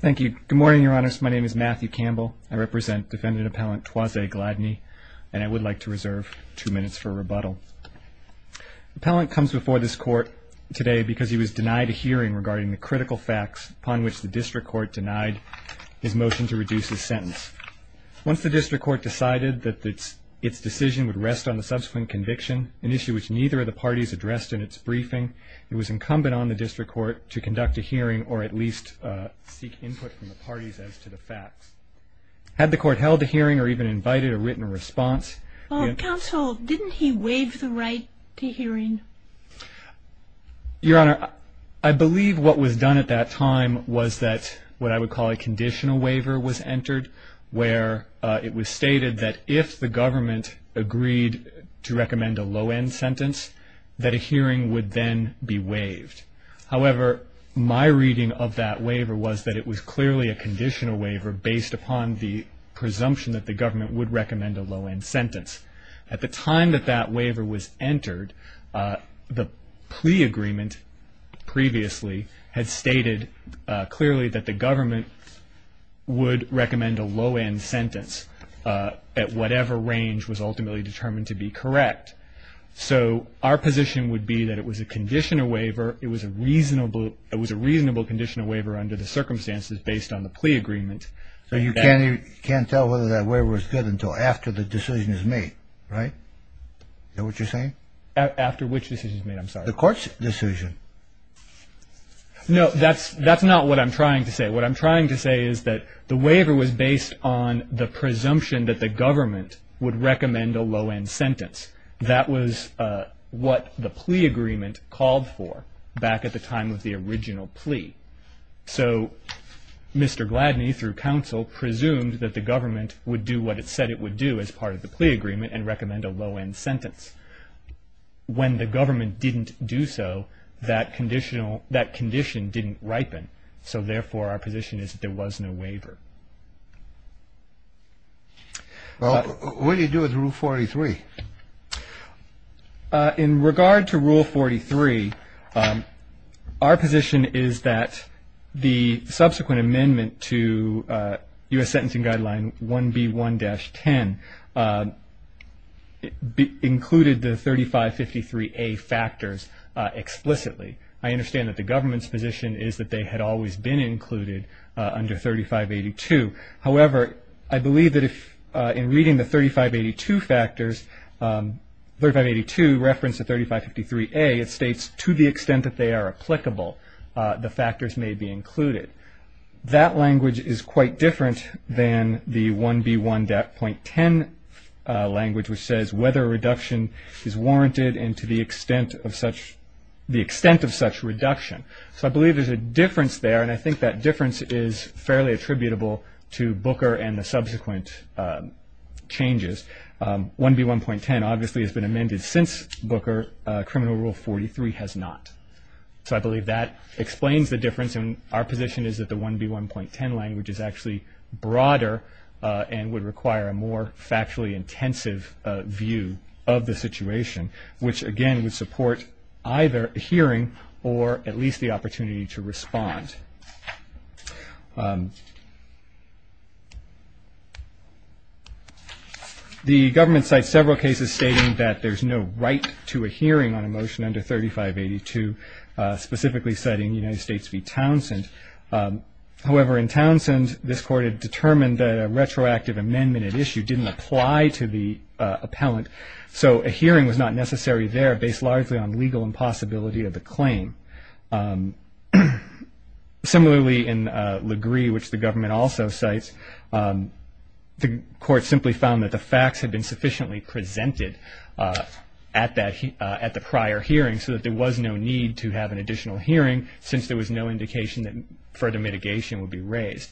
Thank you. Good morning, Your Honors. My name is Matthew Campbell. I represent Defendant Appellant Toise Gladney, and I would like to reserve two minutes for rebuttal. Appellant comes before this Court today because he was denied a hearing regarding the critical facts upon which the District Court denied his motion to reduce his sentence. Once the District Court decided that its decision would rest on the subsequent conviction, an issue which neither of the parties addressed in its briefing, it was incumbent on the District Court to conduct a hearing or at least seek input from the parties as to the facts. Had the Court held a hearing or even invited a written response... Counsel, didn't he waive the right to hearing? Your Honor, I believe what was done at that time was that what I would call a conditional waiver was entered, where it was stated that if the government agreed to recommend a low-end sentence, that a hearing would then be waived. However, my reading of that waiver was that it was clearly a conditional waiver based upon the presumption that the government would recommend a low-end sentence. At the time that that waiver was entered, the plea agreement previously had stated clearly that the government would recommend a low-end sentence at whatever range was ultimately determined to be correct. So our position would be that it was a conditional waiver. It was a reasonable conditional waiver under the circumstances based on the plea agreement. So you can't tell whether that waiver was good until after the decision is made, right? Is that what you're saying? After which decision is made? I'm sorry. The Court's decision. No, that's not what I'm trying to say. What I'm trying to say is that the waiver was based on the presumption that the government would recommend a low-end sentence. That was what the plea agreement called for back at the time of the original plea. So Mr. Gladney, through counsel, presumed that the government would do what it said it would do as part of the plea agreement and recommend a low-end sentence. When the government didn't do so, that condition didn't ripen. So therefore, our position is that there was no waiver. Well, what do you do with Rule 43? In regard to Rule 43, our position is that the subsequent amendment to U.S. Sentencing Guideline 1B1-10 included the 3553A factors explicitly. I understand that the government's position is that they had always been included under 3582. However, I believe that if in reading the 3582 factors, 3582 referenced the 3553A, it states to the extent that they are applicable, the factors may be included. That language is quite different than the 1B1.10 language, which says whether a reduction is warranted and to the extent of such reduction. So I believe there's a difference there, and I think that difference is fairly attributable to Booker and the subsequent changes. 1B1.10 obviously has been amended since Booker. Criminal Rule 43 has not. So I believe that explains the difference, and our position is that the 1B1.10 language is actually broader and would require a more factually intensive view of the situation, which, again, would support either a hearing or at least the opportunity to respond. The government cites several cases stating that there's no right to a hearing on a motion under 3582, specifically citing United States v. Townsend. However, in Townsend, this Court had determined that a retroactive amendment at issue didn't apply to the appellant, so a hearing was not necessary there based largely on legal impossibility of the claim. Similarly, in LaGrie, which the government also cites, the Court simply found that the facts had been sufficiently presented at the prior hearing so that there was no need to have an additional hearing since there was no indication that further mitigation would be raised.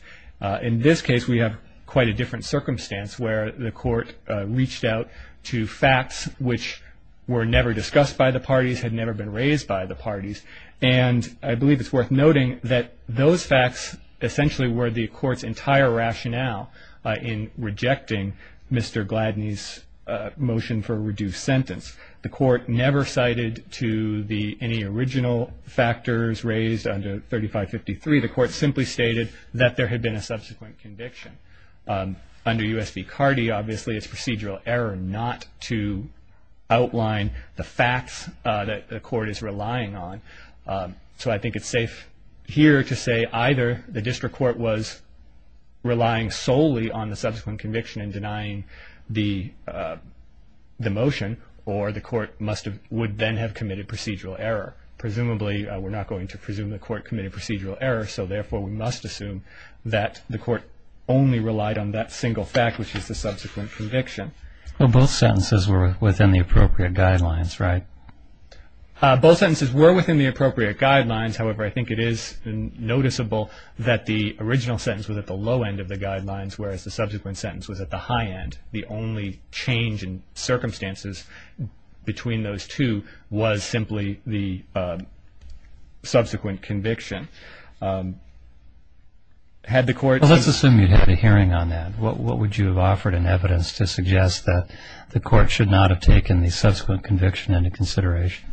In this case, we have quite a different circumstance where the Court reached out to facts which were never discussed by the parties, had never been raised by the parties, and I believe it's worth noting that those facts essentially were the Court's entire rationale in rejecting Mr. Gladney's motion for a reduced sentence. The Court never cited to any original factors raised under 3553. The Court simply stated that there had been a subsequent conviction. Under U.S. v. Cardi, obviously, it's procedural error not to outline the facts that the Court is relying on, so I think it's safe here to say either the District Court was relying solely on the subsequent conviction in denying the motion or the Court would then have committed procedural error. Presumably, we're not going to presume the Court committed procedural error, so therefore we must assume that the Court only relied on that single fact, which is the subsequent conviction. Well, both sentences were within the appropriate guidelines, right? Both sentences were within the appropriate guidelines. However, I think it is noticeable that the original sentence was at the low end of the guidelines, whereas the subsequent sentence was at the high end. The only change in circumstances between those two was simply the subsequent conviction. Well, let's assume you had a hearing on that. What would you have offered in evidence to suggest that the Court should not have taken the subsequent conviction into consideration?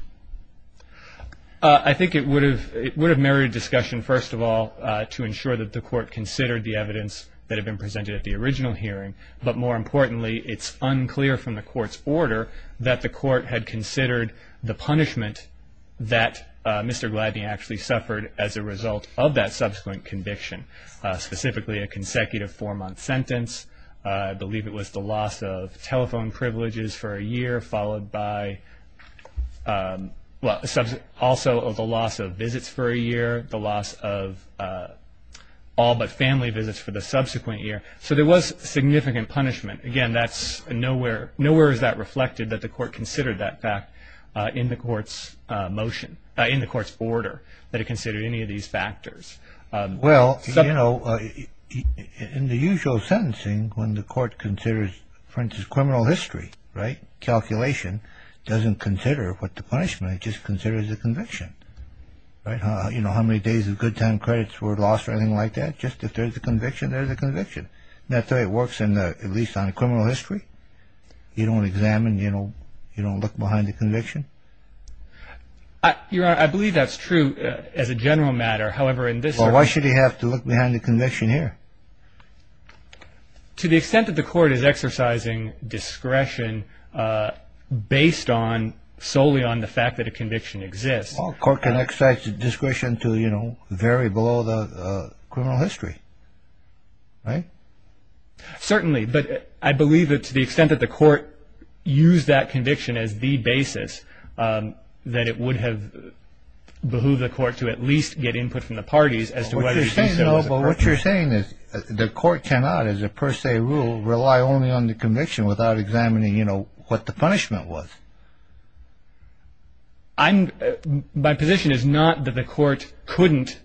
I think it would have married discussion, first of all, to ensure that the Court considered the evidence that had been presented at the original hearing, but more importantly, it's unclear from the Court's order that the Court had considered the punishment that Mr. Gladney actually suffered as a result of that subsequent conviction, specifically a consecutive four-month sentence. I believe it was the loss of telephone privileges for a year, followed by also the loss of visits for a year, the loss of all but family visits for the subsequent year. Right. So there was significant punishment. Again, nowhere is that reflected that the Court considered that in the Court's order, that it considered any of these factors. Well, in the usual sentencing, when the Court considers, for instance, criminal history, right, calculation doesn't consider what the punishment, it just considers the conviction. You know how many days of good time credits were lost or anything like that? Just if there's a conviction, there's a conviction. That's how it works, at least on criminal history. You don't examine, you don't look behind the conviction. Your Honor, I believe that's true as a general matter. However, in this case... Well, why should he have to look behind the conviction here? To the extent that the Court is exercising discretion based solely on the fact that a conviction exists... The Court can exercise discretion to, you know, vary below the criminal history, right? Certainly. But I believe that to the extent that the Court used that conviction as the basis, that it would have behooved the Court to at least get input from the parties as to whether... What you're saying is the Court cannot, as a per se rule, rely only on the conviction without examining, you know, what the punishment was. I'm... My position is not that the Court couldn't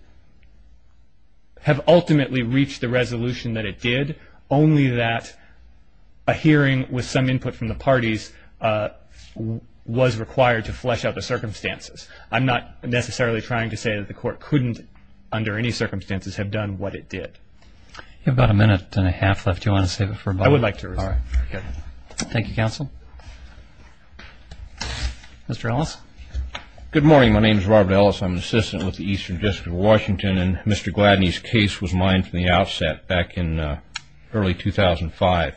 have ultimately reached the resolution that it did, only that a hearing with some input from the parties was required to flesh out the circumstances. I'm not necessarily trying to say that the Court couldn't, under any circumstances, have done what it did. You have about a minute and a half left. Do you want to save it for... I would like to. All right. Okay. Thank you, Counsel. Mr. Ellis? Good morning. My name is Robert Ellis. I'm an assistant with the Eastern District of Washington, and Mr. Gladney's case was mined from the outset back in early 2005.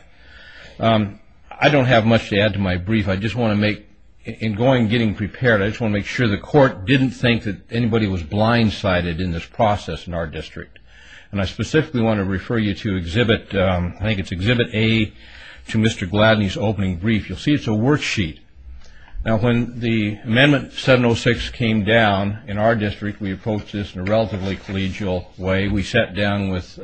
I don't have much to add to my brief. I just want to make... In going and getting prepared, I just want to make sure the Court didn't think that anybody was blindsided in this process in our district. And I specifically want to refer you to exhibit... to Mr. Gladney's opening brief. You'll see it's a worksheet. Now, when the Amendment 706 came down in our district, we approached this in a relatively collegial way. We sat down with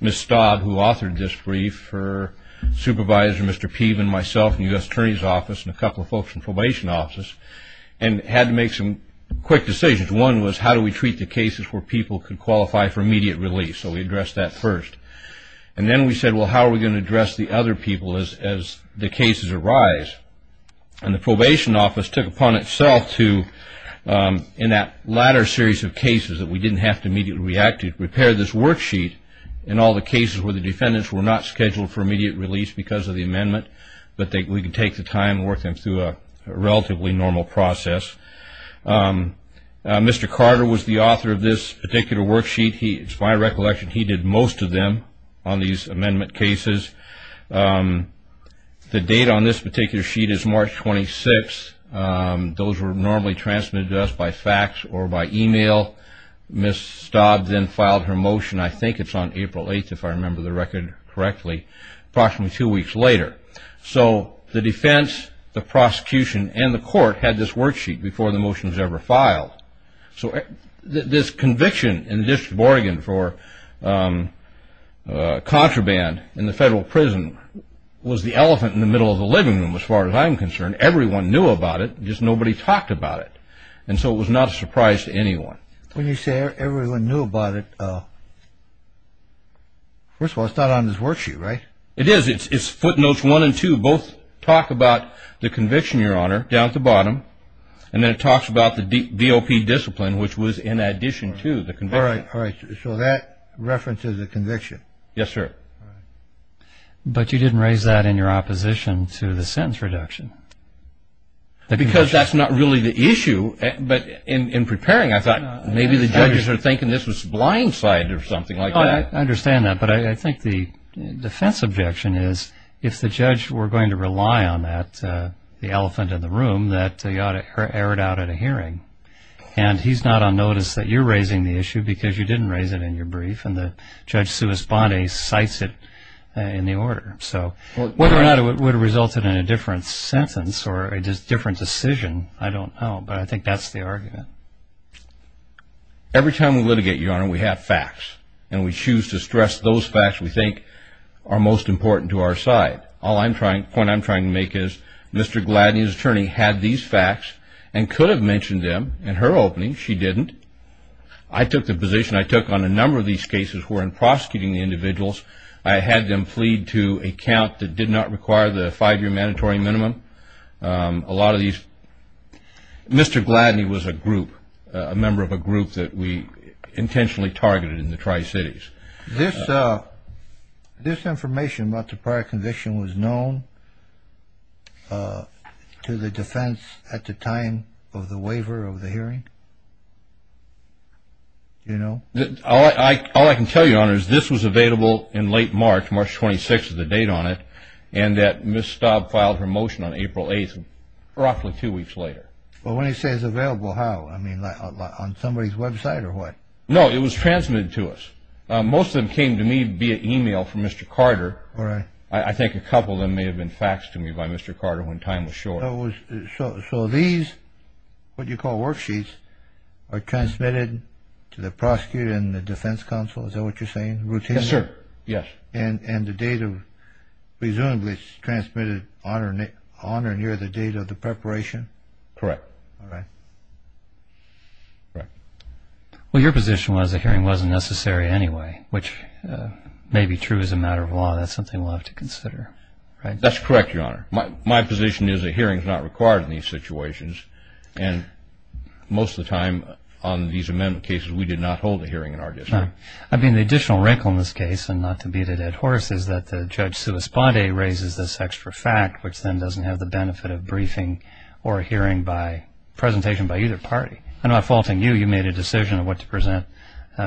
Ms. Staub, who authored this brief, her supervisor, Mr. Peven, myself, and the U.S. Attorney's Office, and a couple of folks from the Probation Office, and had to make some quick decisions. One was, how do we treat the cases where people could qualify for immediate release? So we addressed that first. And then we said, well, how are we going to address the other people as the cases arise? And the Probation Office took upon itself to, in that latter series of cases, that we didn't have to immediately react to, prepare this worksheet in all the cases where the defendants were not scheduled for immediate release because of the amendment, but we could take the time and work them through a relatively normal process. Mr. Carter was the author of this particular worksheet. It's my recollection he did most of them on these amendment cases. The date on this particular sheet is March 26th. Those were normally transmitted to us by fax or by e-mail. Ms. Staub then filed her motion, I think it's on April 8th if I remember the record correctly, approximately two weeks later. So the defense, the prosecution, and the court had this worksheet before the motion was ever filed. So this conviction and this bargain for contraband in the federal prison was the elephant in the middle of the living room, as far as I'm concerned. Everyone knew about it. Just nobody talked about it. And so it was not a surprise to anyone. When you say everyone knew about it, first of all, it's not on this worksheet, right? It is. It's footnotes one and two. So we both talk about the conviction, Your Honor, down at the bottom, and then it talks about the DOP discipline, which was in addition to the conviction. All right. So that references the conviction. Yes, sir. But you didn't raise that in your opposition to the sentence reduction. Because that's not really the issue. But in preparing, I thought maybe the judges were thinking this was blindside or something like that. I understand that. But I think the defense objection is if the judge were going to rely on that elephant in the room, that they ought to air it out at a hearing. And he's not on notice that you're raising the issue because you didn't raise it in your brief, and the Judge Suis Bondi cites it in the order. So whether or not it would have resulted in a different sentence or a different decision, I don't know. But I think that's the argument. Every time we litigate, Your Honor, we have facts, and we choose to stress those facts we think are most important to our side. The point I'm trying to make is Mr. Gladney's attorney had these facts and could have mentioned them in her opening. She didn't. I took the position I took on a number of these cases were in prosecuting the individuals. I had them plead to a count that did not require the five-year mandatory minimum. A lot of these – Mr. Gladney was a group, a member of a group that we intentionally targeted in the Tri-Cities. This information about the prior conviction was known to the defense at the time of the waiver of the hearing? Do you know? All I can tell you, Your Honor, is this was available in late March, March 26th is the date on it, and that Ms. Staub filed her motion on April 8th, roughly two weeks later. Well, when he says available, how? I mean, on somebody's website or what? No, it was transmitted to us. Most of them came to me via email from Mr. Carter. All right. I think a couple of them may have been faxed to me by Mr. Carter when time was short. So these, what you call worksheets, are transmitted to the prosecutor and the defense counsel? Is that what you're saying, routinely? Yes, sir. Yes. And the data presumably is transmitted on or near the date of the preparation? Correct. All right. Correct. Well, your position was the hearing wasn't necessary anyway, which may be true as a matter of law. That's something we'll have to consider, right? That's correct, Your Honor. My position is a hearing is not required in these situations, and most of the time on these amendment cases we did not hold a hearing in our district. I mean, the additional wrinkle in this case, and not to beat a dead horse, is that Judge Suisbande raises this extra fact, which then doesn't have the benefit of briefing or a hearing by presentation by either party. I'm not faulting you. You made a decision of what to present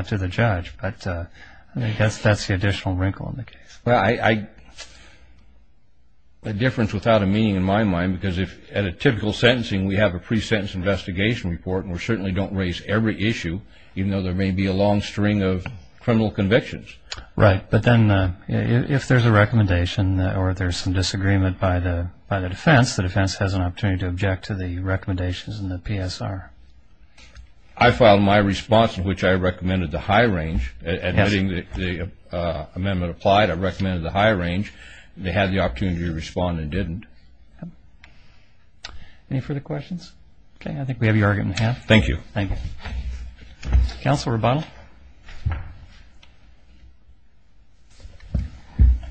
to the judge. But I guess that's the additional wrinkle in the case. Well, a difference without a meaning in my mind, because at a typical sentencing we have a pre-sentence investigation report, and we certainly don't raise every issue, even though there may be a long string of criminal convictions. Right. But then if there's a recommendation or there's some disagreement by the defense, the defense has an opportunity to object to the recommendations in the PSR. I filed my response in which I recommended the high range. Admitting the amendment applied, I recommended the high range. They had the opportunity to respond and didn't. Any further questions? Okay, I think we have your argument in the House. Thank you. Thank you. Counsel Rebondo.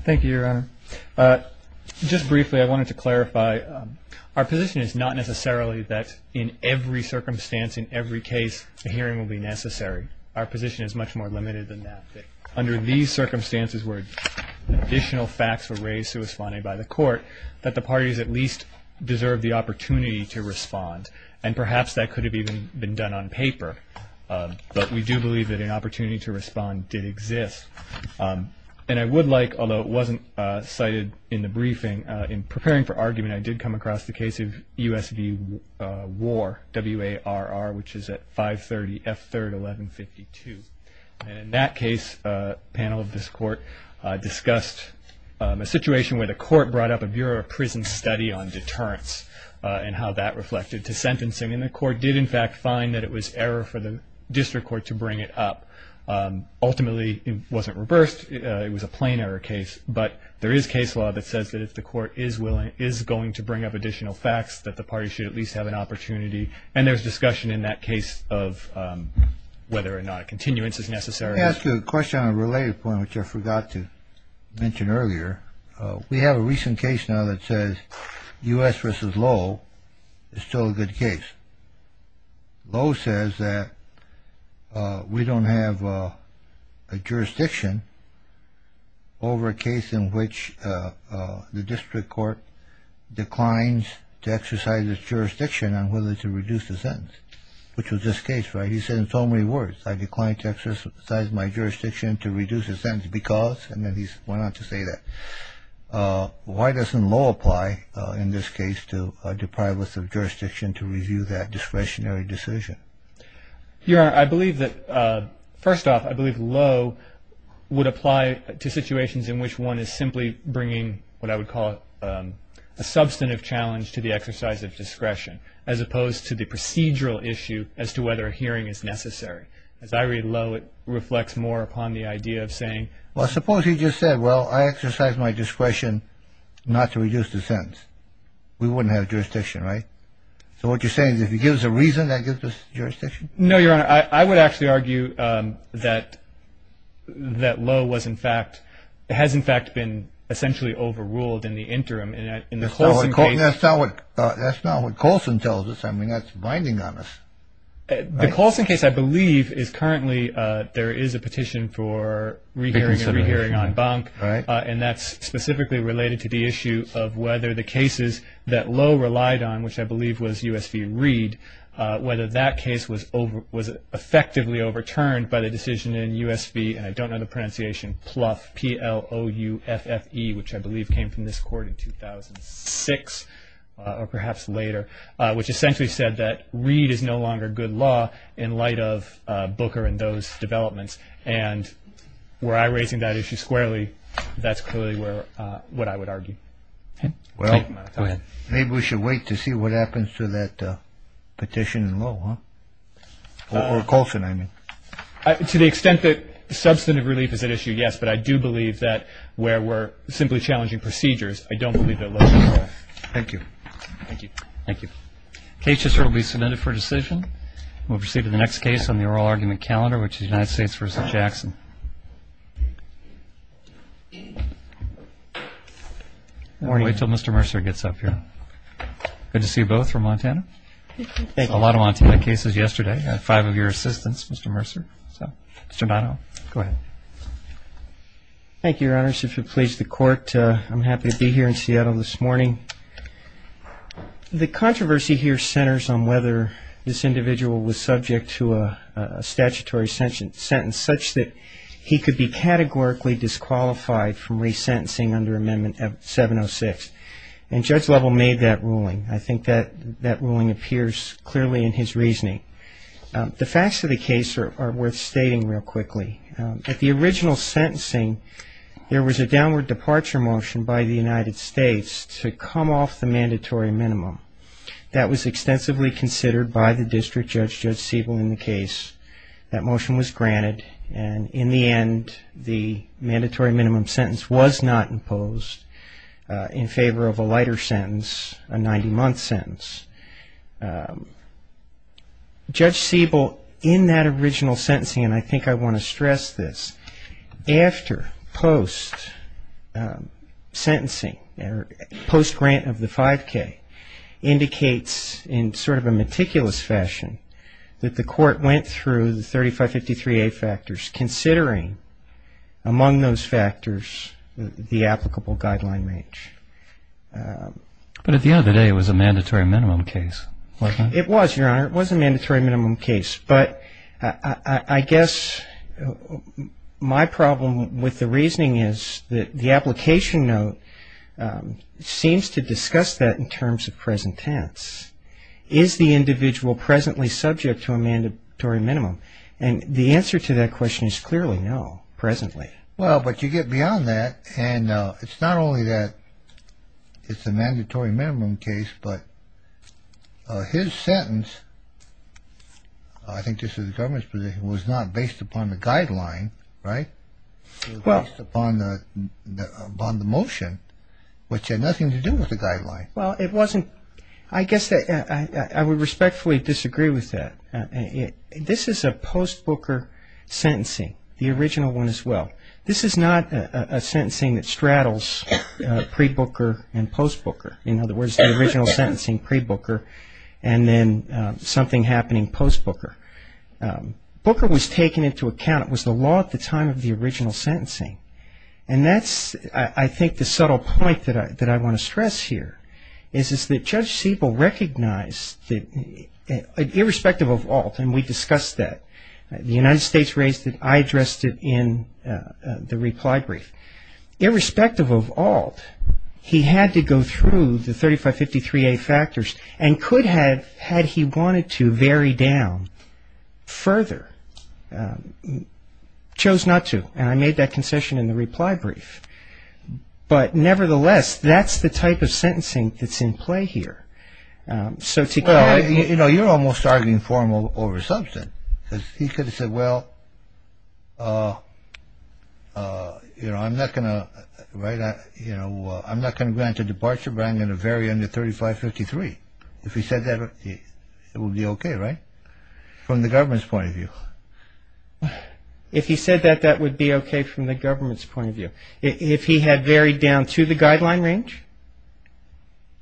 Thank you, Your Honor. Just briefly, I wanted to clarify, our position is not necessarily that in every circumstance, in every case, a hearing will be necessary. Our position is much more limited than that, that under these circumstances where additional facts were raised, so it was funded by the court, that the parties at least deserve the opportunity to respond. And perhaps that could have even been done on paper. But we do believe that an opportunity to respond did exist. And I would like, although it wasn't cited in the briefing, in preparing for argument I did come across the case of U.S.V. War, W.A.R.R., which is at 530 F3rd 1152. And in that case, a panel of this court discussed a situation where the court brought up a Bureau of Sentencing and the court did, in fact, find that it was error for the district court to bring it up. Ultimately, it wasn't reversed. It was a plain error case. But there is case law that says that if the court is willing, is going to bring up additional facts, that the parties should at least have an opportunity. And there's discussion in that case of whether or not a continuance is necessary. Let me ask you a question on a related point, which I forgot to mention earlier. We have a recent case now that says U.S. versus Lowell is still a good case. Lowell says that we don't have a jurisdiction over a case in which the district court declines to exercise its jurisdiction on whether to reduce the sentence, which was this case, right? He said in so many words, I decline to exercise my jurisdiction to reduce the sentence because, and then he went on to say that. Why doesn't Lowell apply in this case to deprive us of jurisdiction to review that discretionary decision? Your Honor, I believe that, first off, I believe Lowell would apply to situations in which one is simply bringing what I would call a substantive challenge to the exercise of discretion, as opposed to the procedural issue as to whether a hearing is necessary. As I read Lowell, it reflects more upon the idea of saying, well, suppose he just said, well, I exercise my discretion not to reduce the sentence. We wouldn't have jurisdiction, right? So what you're saying is if he gives a reason, that gives us jurisdiction? No, Your Honor. I would actually argue that Lowell was in fact, has in fact been essentially overruled in the interim in the Colson case. That's not what Colson tells us. I mean, that's binding on us. The Colson case, I believe, is currently, there is a petition for re-hearing and re-hearing on bunk, and that's specifically related to the issue of whether the cases that Lowell relied on, which I believe was U.S. v. Reed, whether that case was effectively overturned by the decision in U.S. v., and I don't know the pronunciation, Plouffe, P-L-O-U-F-F-E, which I believe came from this court in 2006 or perhaps later, which essentially said that Reed is no longer good law in light of Booker and those developments, and were I raising that issue squarely, that's clearly what I would argue. Well, maybe we should wait to see what happens to that petition in Lowell, or Colson, I mean. To the extent that substantive relief is at issue, yes, but I do believe that where we're simply challenging procedures, I don't believe that Lowell is at fault. Thank you. Thank you. Thank you. The case just will be submitted for decision. We'll proceed to the next case on the oral argument calendar, which is United States v. Jackson. We'll wait until Mr. Mercer gets up here. Good to see you both from Montana. A lot of Montana cases yesterday. Five of your assistants, Mr. Mercer. Mr. Donohue, go ahead. Thank you, Your Honors. I'm happy to be here in Seattle this morning. The controversy here centers on whether this individual was subject to a statutory sentence such that he could be categorically disqualified from resentencing under Amendment 706, and Judge Lovell made that ruling. I think that ruling appears clearly in his reasoning. The facts of the case are worth stating real quickly. At the original sentencing, there was a downward departure motion by the United States to come off the mandatory minimum. That was extensively considered by the district judge, Judge Siebel, in the case. That motion was granted, and in the end, the mandatory minimum sentence was not imposed in favor of a lighter sentence, a 90-month sentence. Judge Siebel, in that original sentencing, and I think I want to stress this, after post-sentencing, post-grant of the 5K, indicates in sort of a meticulous fashion that the court went through the 3553A factors, considering among those factors the applicable guideline range. But at the end of the day, it was a mandatory minimum case, wasn't it? It was, Your Honor. It was a mandatory minimum case. But I guess my problem with the reasoning is that the application note seems to discuss that in terms of present tense. Is the individual presently subject to a mandatory minimum? And the answer to that question is clearly no, presently. Well, but you get beyond that, and it's not only that it's a mandatory minimum case, but his sentence, I think this is the government's position, was not based upon the guideline, right? It was based upon the motion, which had nothing to do with the guideline. Well, it wasn't. I guess I would respectfully disagree with that. This is a post-Booker sentencing, the original one as well. This is not a sentencing that straddles pre-Booker and post-Booker. In other words, the original sentencing, pre-Booker, and then something happening post-Booker. Booker was taken into account. It was the law at the time of the original sentencing. And that's, I think, the subtle point that I want to stress here, is that Judge Siebel recognized that, irrespective of ALT, and we discussed that, the United States raised it, I addressed it in the reply brief. Irrespective of ALT, he had to go through the 3553A factors and could have, had he wanted to vary down further, chose not to. And I made that concession in the reply brief. But nevertheless, that's the type of sentencing that's in play here. Well, you're almost arguing formal over substance. Because he could have said, well, I'm not going to grant a departure, but I'm going to vary under 3553. If he said that, it would be okay, right? From the government's point of view. If he said that, that would be okay from the government's point of view. If he had varied down to the guideline range?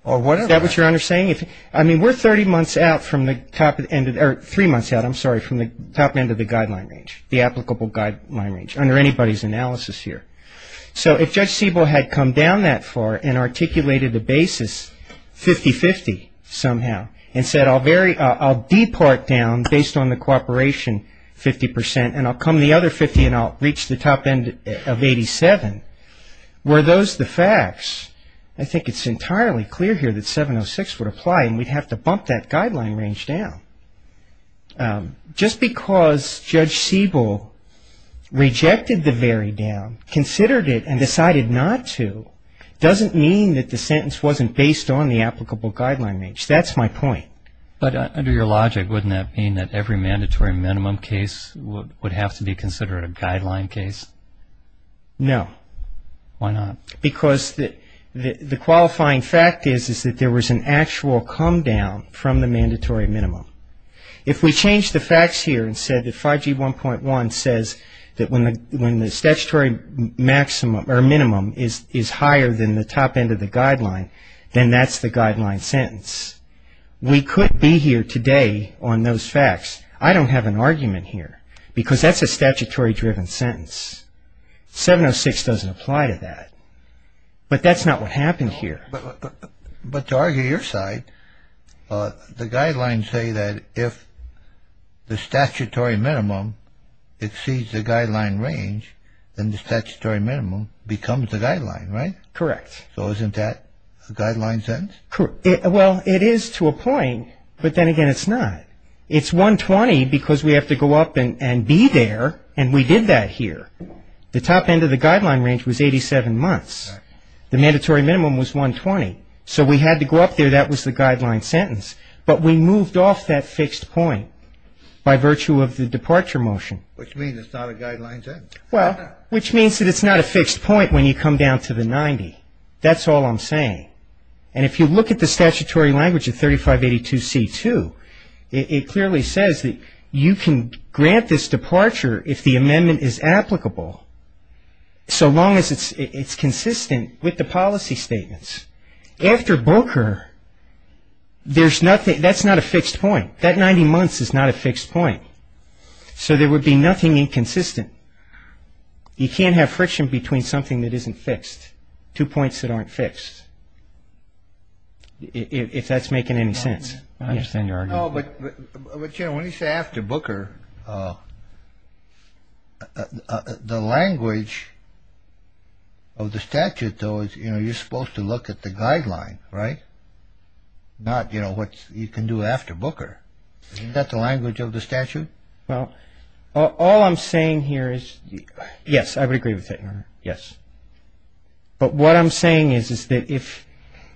Or whatever. Is that what you're saying? I mean, we're 30 months out from the top end, or three months out, I'm sorry, from the top end of the guideline range, the applicable guideline range, under anybody's analysis here. So if Judge Siebel had come down that far and articulated a basis 50-50 somehow, and said I'll depart down based on the cooperation 50 percent, and I'll come the other 50 and I'll reach the top end of 87, were those the facts, I think it's entirely clear here that 706 would apply, and we'd have to bump that guideline range down. Just because Judge Siebel rejected the vary down, considered it, and decided not to, doesn't mean that the sentence wasn't based on the applicable guideline range. That's my point. But under your logic, wouldn't that mean that every mandatory minimum case would have to be considered a guideline case? No. Why not? Because the qualifying fact is that there was an actual come down from the mandatory minimum. If we change the facts here and said that 5G 1.1 says that when the statutory minimum is higher than the top end of the guideline, then that's the guideline sentence. We could be here today on those facts. I don't have an argument here because that's a statutory driven sentence. 706 doesn't apply to that. But that's not what happened here. But to argue your side, the guidelines say that if the statutory minimum exceeds the guideline range, then the statutory minimum becomes the guideline, right? Correct. So isn't that a guideline sentence? Well, it is to a point, but then again, it's not. It's 120 because we have to go up and be there, and we did that here. The top end of the guideline range was 87 months. The mandatory minimum was 120. So we had to go up there. That was the guideline sentence. But we moved off that fixed point by virtue of the departure motion. Which means it's not a guideline sentence. Well, which means that it's not a fixed point when you come down to the 90. That's all I'm saying. And if you look at the statutory language of 3582C2, it clearly says that you can grant this departure if the amendment is applicable, so long as it's consistent with the policy statements. After BOKER, that's not a fixed point. That 90 months is not a fixed point. So there would be nothing inconsistent. You can't have friction between something that isn't fixed, two points that aren't fixed, if that's making any sense. I understand your argument. But, you know, when you say after BOKER, the language of the statute, though, is you're supposed to look at the guideline, right? Not what you can do after BOKER. Isn't that the language of the statute? Well, all I'm saying here is, yes, I would agree with that, Your Honor, yes. But what I'm saying is, is that if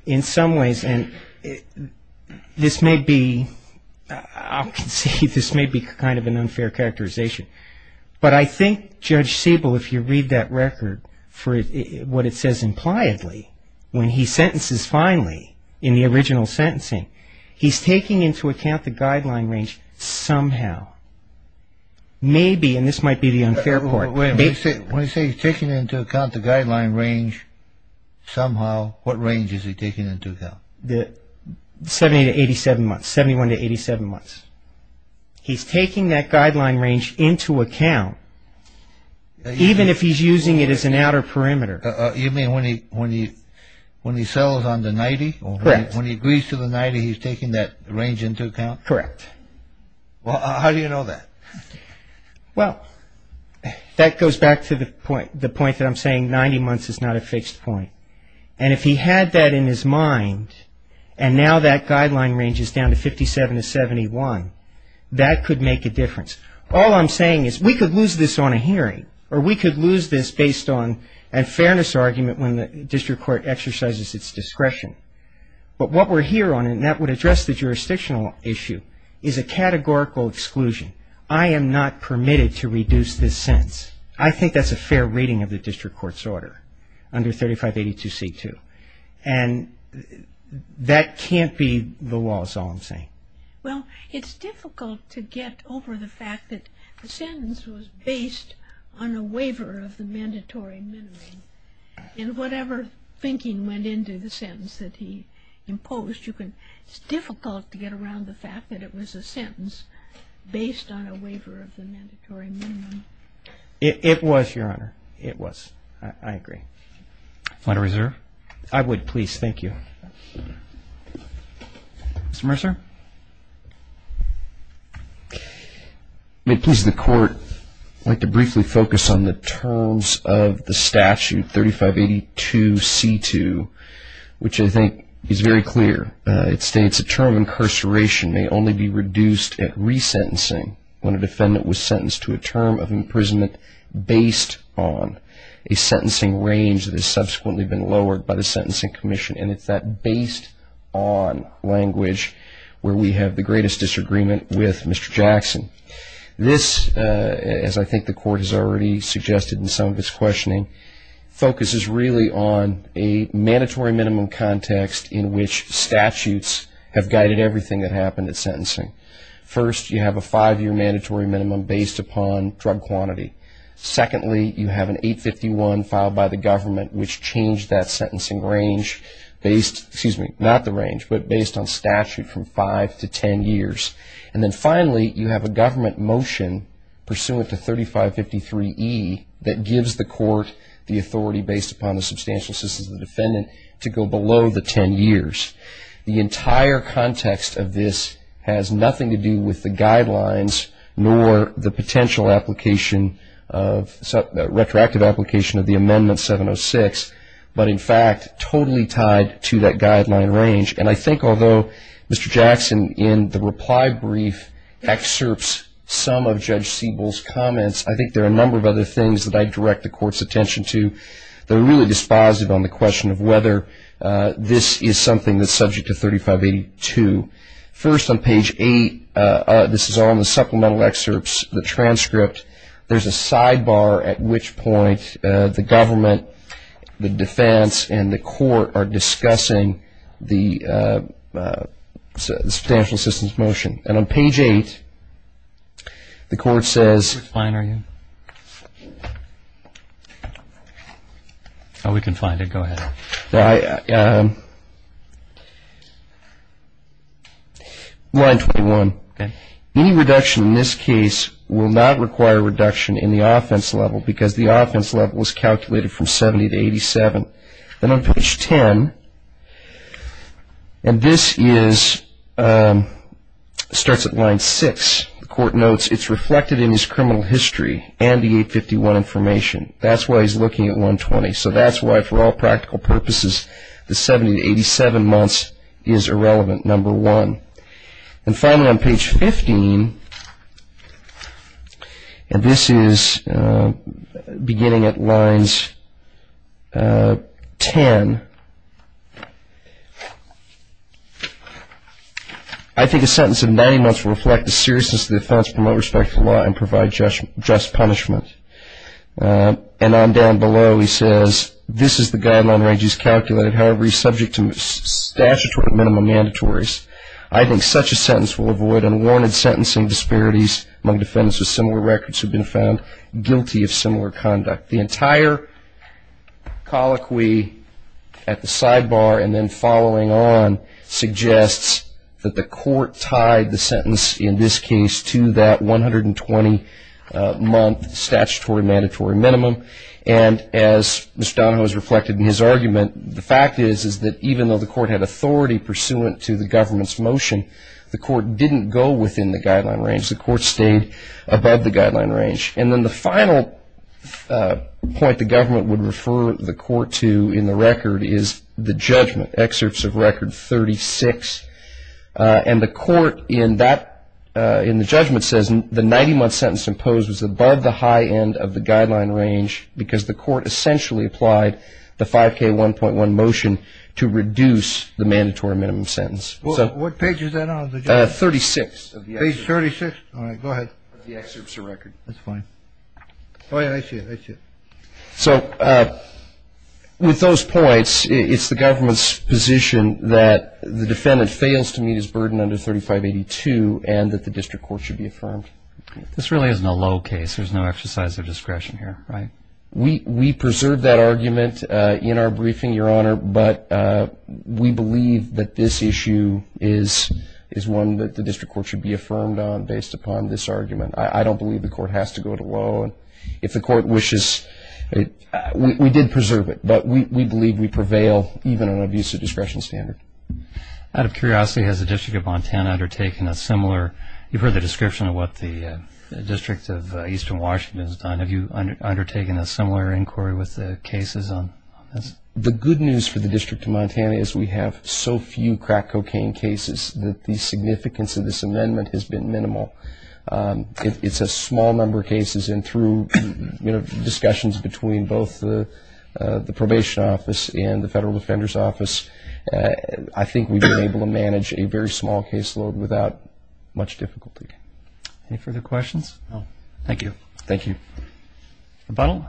in some ways, and this may be, I'll concede this may be kind of an unfair characterization, but I think Judge Siebel, if you read that record for what it says impliedly, when he sentences finally in the original sentencing, he's taking into account the guideline range somehow. Maybe, and this might be the unfair part. When he says he's taking into account the guideline range somehow, what range is he taking into account? The 70 to 87 months, 71 to 87 months. He's taking that guideline range into account, even if he's using it as an outer perimeter. You mean when he settles on the 90? Correct. When he agrees to the 90, he's taking that range into account? Correct. Well, how do you know that? Well, that goes back to the point that I'm saying 90 months is not a fixed point. And if he had that in his mind, and now that guideline range is down to 57 to 71, that could make a difference. All I'm saying is we could lose this on a hearing, or we could lose this based on a fairness argument when the district court exercises its discretion. But what we're here on, and that would address the jurisdictional issue, is a categorical exclusion. I am not permitted to reduce this sentence. I think that's a fair reading of the district court's order under 3582C2. And that can't be the law is all I'm saying. Well, it's difficult to get over the fact that the sentence was based on a waiver of the mandatory minimum. And whatever thinking went into the sentence that he imposed, it's difficult to get around the fact that it was a sentence based on a waiver of the mandatory minimum. It was, Your Honor. It was. I agree. Final reserve? I would, please. Thank you. Mr. Mercer? May it please the Court, I'd like to briefly focus on the terms of the statute 3582C2, which I think is very clear. It states a term of incarceration may only be reduced at resentencing when a defendant was sentenced to a term of imprisonment based on a sentencing range that has subsequently been lowered by the Sentencing Commission. And it's that based on language where we have the greatest disagreement with Mr. Jackson. This, as I think the Court has already suggested in some of its questioning, focuses really on a mandatory minimum context in which statutes have guided everything that happened at sentencing. First, you have a five-year mandatory minimum based upon drug quantity. Secondly, you have an 851 filed by the government which changed that sentencing range based, excuse me, not the range, but based on statute from five to ten years. And then finally, you have a government motion pursuant to 3553E that gives the Court the authority based upon the substantial assistance of the defendant to go below the ten years. The entire context of this has nothing to do with the guidelines nor the potential application of, retroactive application of the Amendment 706, but in fact totally tied to that guideline range. And I think although Mr. Jackson in the reply brief excerpts some of Judge Siebel's comments, I think there are a number of other things that I direct the Court's attention to that are really dispositive on the question of whether this is something that's subject to 3582. First, on page eight, this is all in the supplemental excerpts, the transcript, there's a sidebar at which point the government, the defense, and the Court are discussing the substantial assistance motion. And on page eight, the Court says. Which line are you in? Oh, we can find it. Go ahead. Line 21. Okay. Any reduction in this case will not require reduction in the offense level because the offense level is calculated from 70 to 87. Then on page 10, and this is, starts at line six. The Court notes it's reflected in his criminal history and the 851 information. That's why he's looking at 120. So that's why for all practical purposes, the 70 to 87 months is irrelevant, number one. And finally, on page 15, and this is beginning at lines 10. I think a sentence of 90 months will reflect the seriousness of the offense, promote respect to the law, and provide just punishment. And on down below, he says, this is the guideline range he's calculated. However, he's subject to statutory minimum mandatories. I think such a sentence will avoid unwarranted sentencing disparities among defendants with similar records who have been found guilty of similar conduct. The entire colloquy at the sidebar and then following on suggests that the Court tied the sentence in this case to that 120-month statutory minimum. And as Mr. Donahoe has reflected in his argument, the fact is that even though the Court had authority pursuant to the government's motion, the Court didn't go within the guideline range. The Court stayed above the guideline range. And then the final point the government would refer the Court to in the record is the judgment, excerpts of record 36. And the Court in the judgment says the 90-month sentence imposed was above the high end of the guideline range because the Court essentially applied the 5K1.1 motion to reduce the mandatory minimum sentence. What page is that on? 36. Page 36? All right, go ahead. The excerpts of record. Oh, yeah, I see it. I see it. So with those points, it's the government's position that the defendant fails to meet his burden under 3582 and that the district court should be affirmed. This really isn't a low case. There's no exercise of discretion here, right? We preserve that argument in our briefing, Your Honor, but we believe that this issue is one that the district court should be affirmed on based upon this argument. I don't believe the Court has to go to low. If the Court wishes, we did preserve it, but we believe we prevail even on an abuse of discretion standard. Out of curiosity, has the District of Montana undertaken a similar – you've heard the description of what the District of Eastern Washington has done. Have you undertaken a similar inquiry with the cases on this? The good news for the District of Montana is we have so few crack cocaine cases that the significance of this amendment has been minimal. It's a small number of cases, and through discussions between both the probation office and the Federal Defender's Office, I think we've been able to manage a very small caseload without much difficulty. Any further questions? No. Thank you. Thank you. Rebuttal?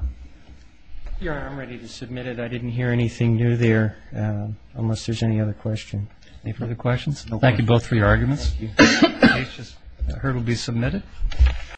Your Honor, I'm ready to submit it. I didn't hear anything new there, unless there's any other question. Any further questions? Thank you both for your arguments. The case will be submitted.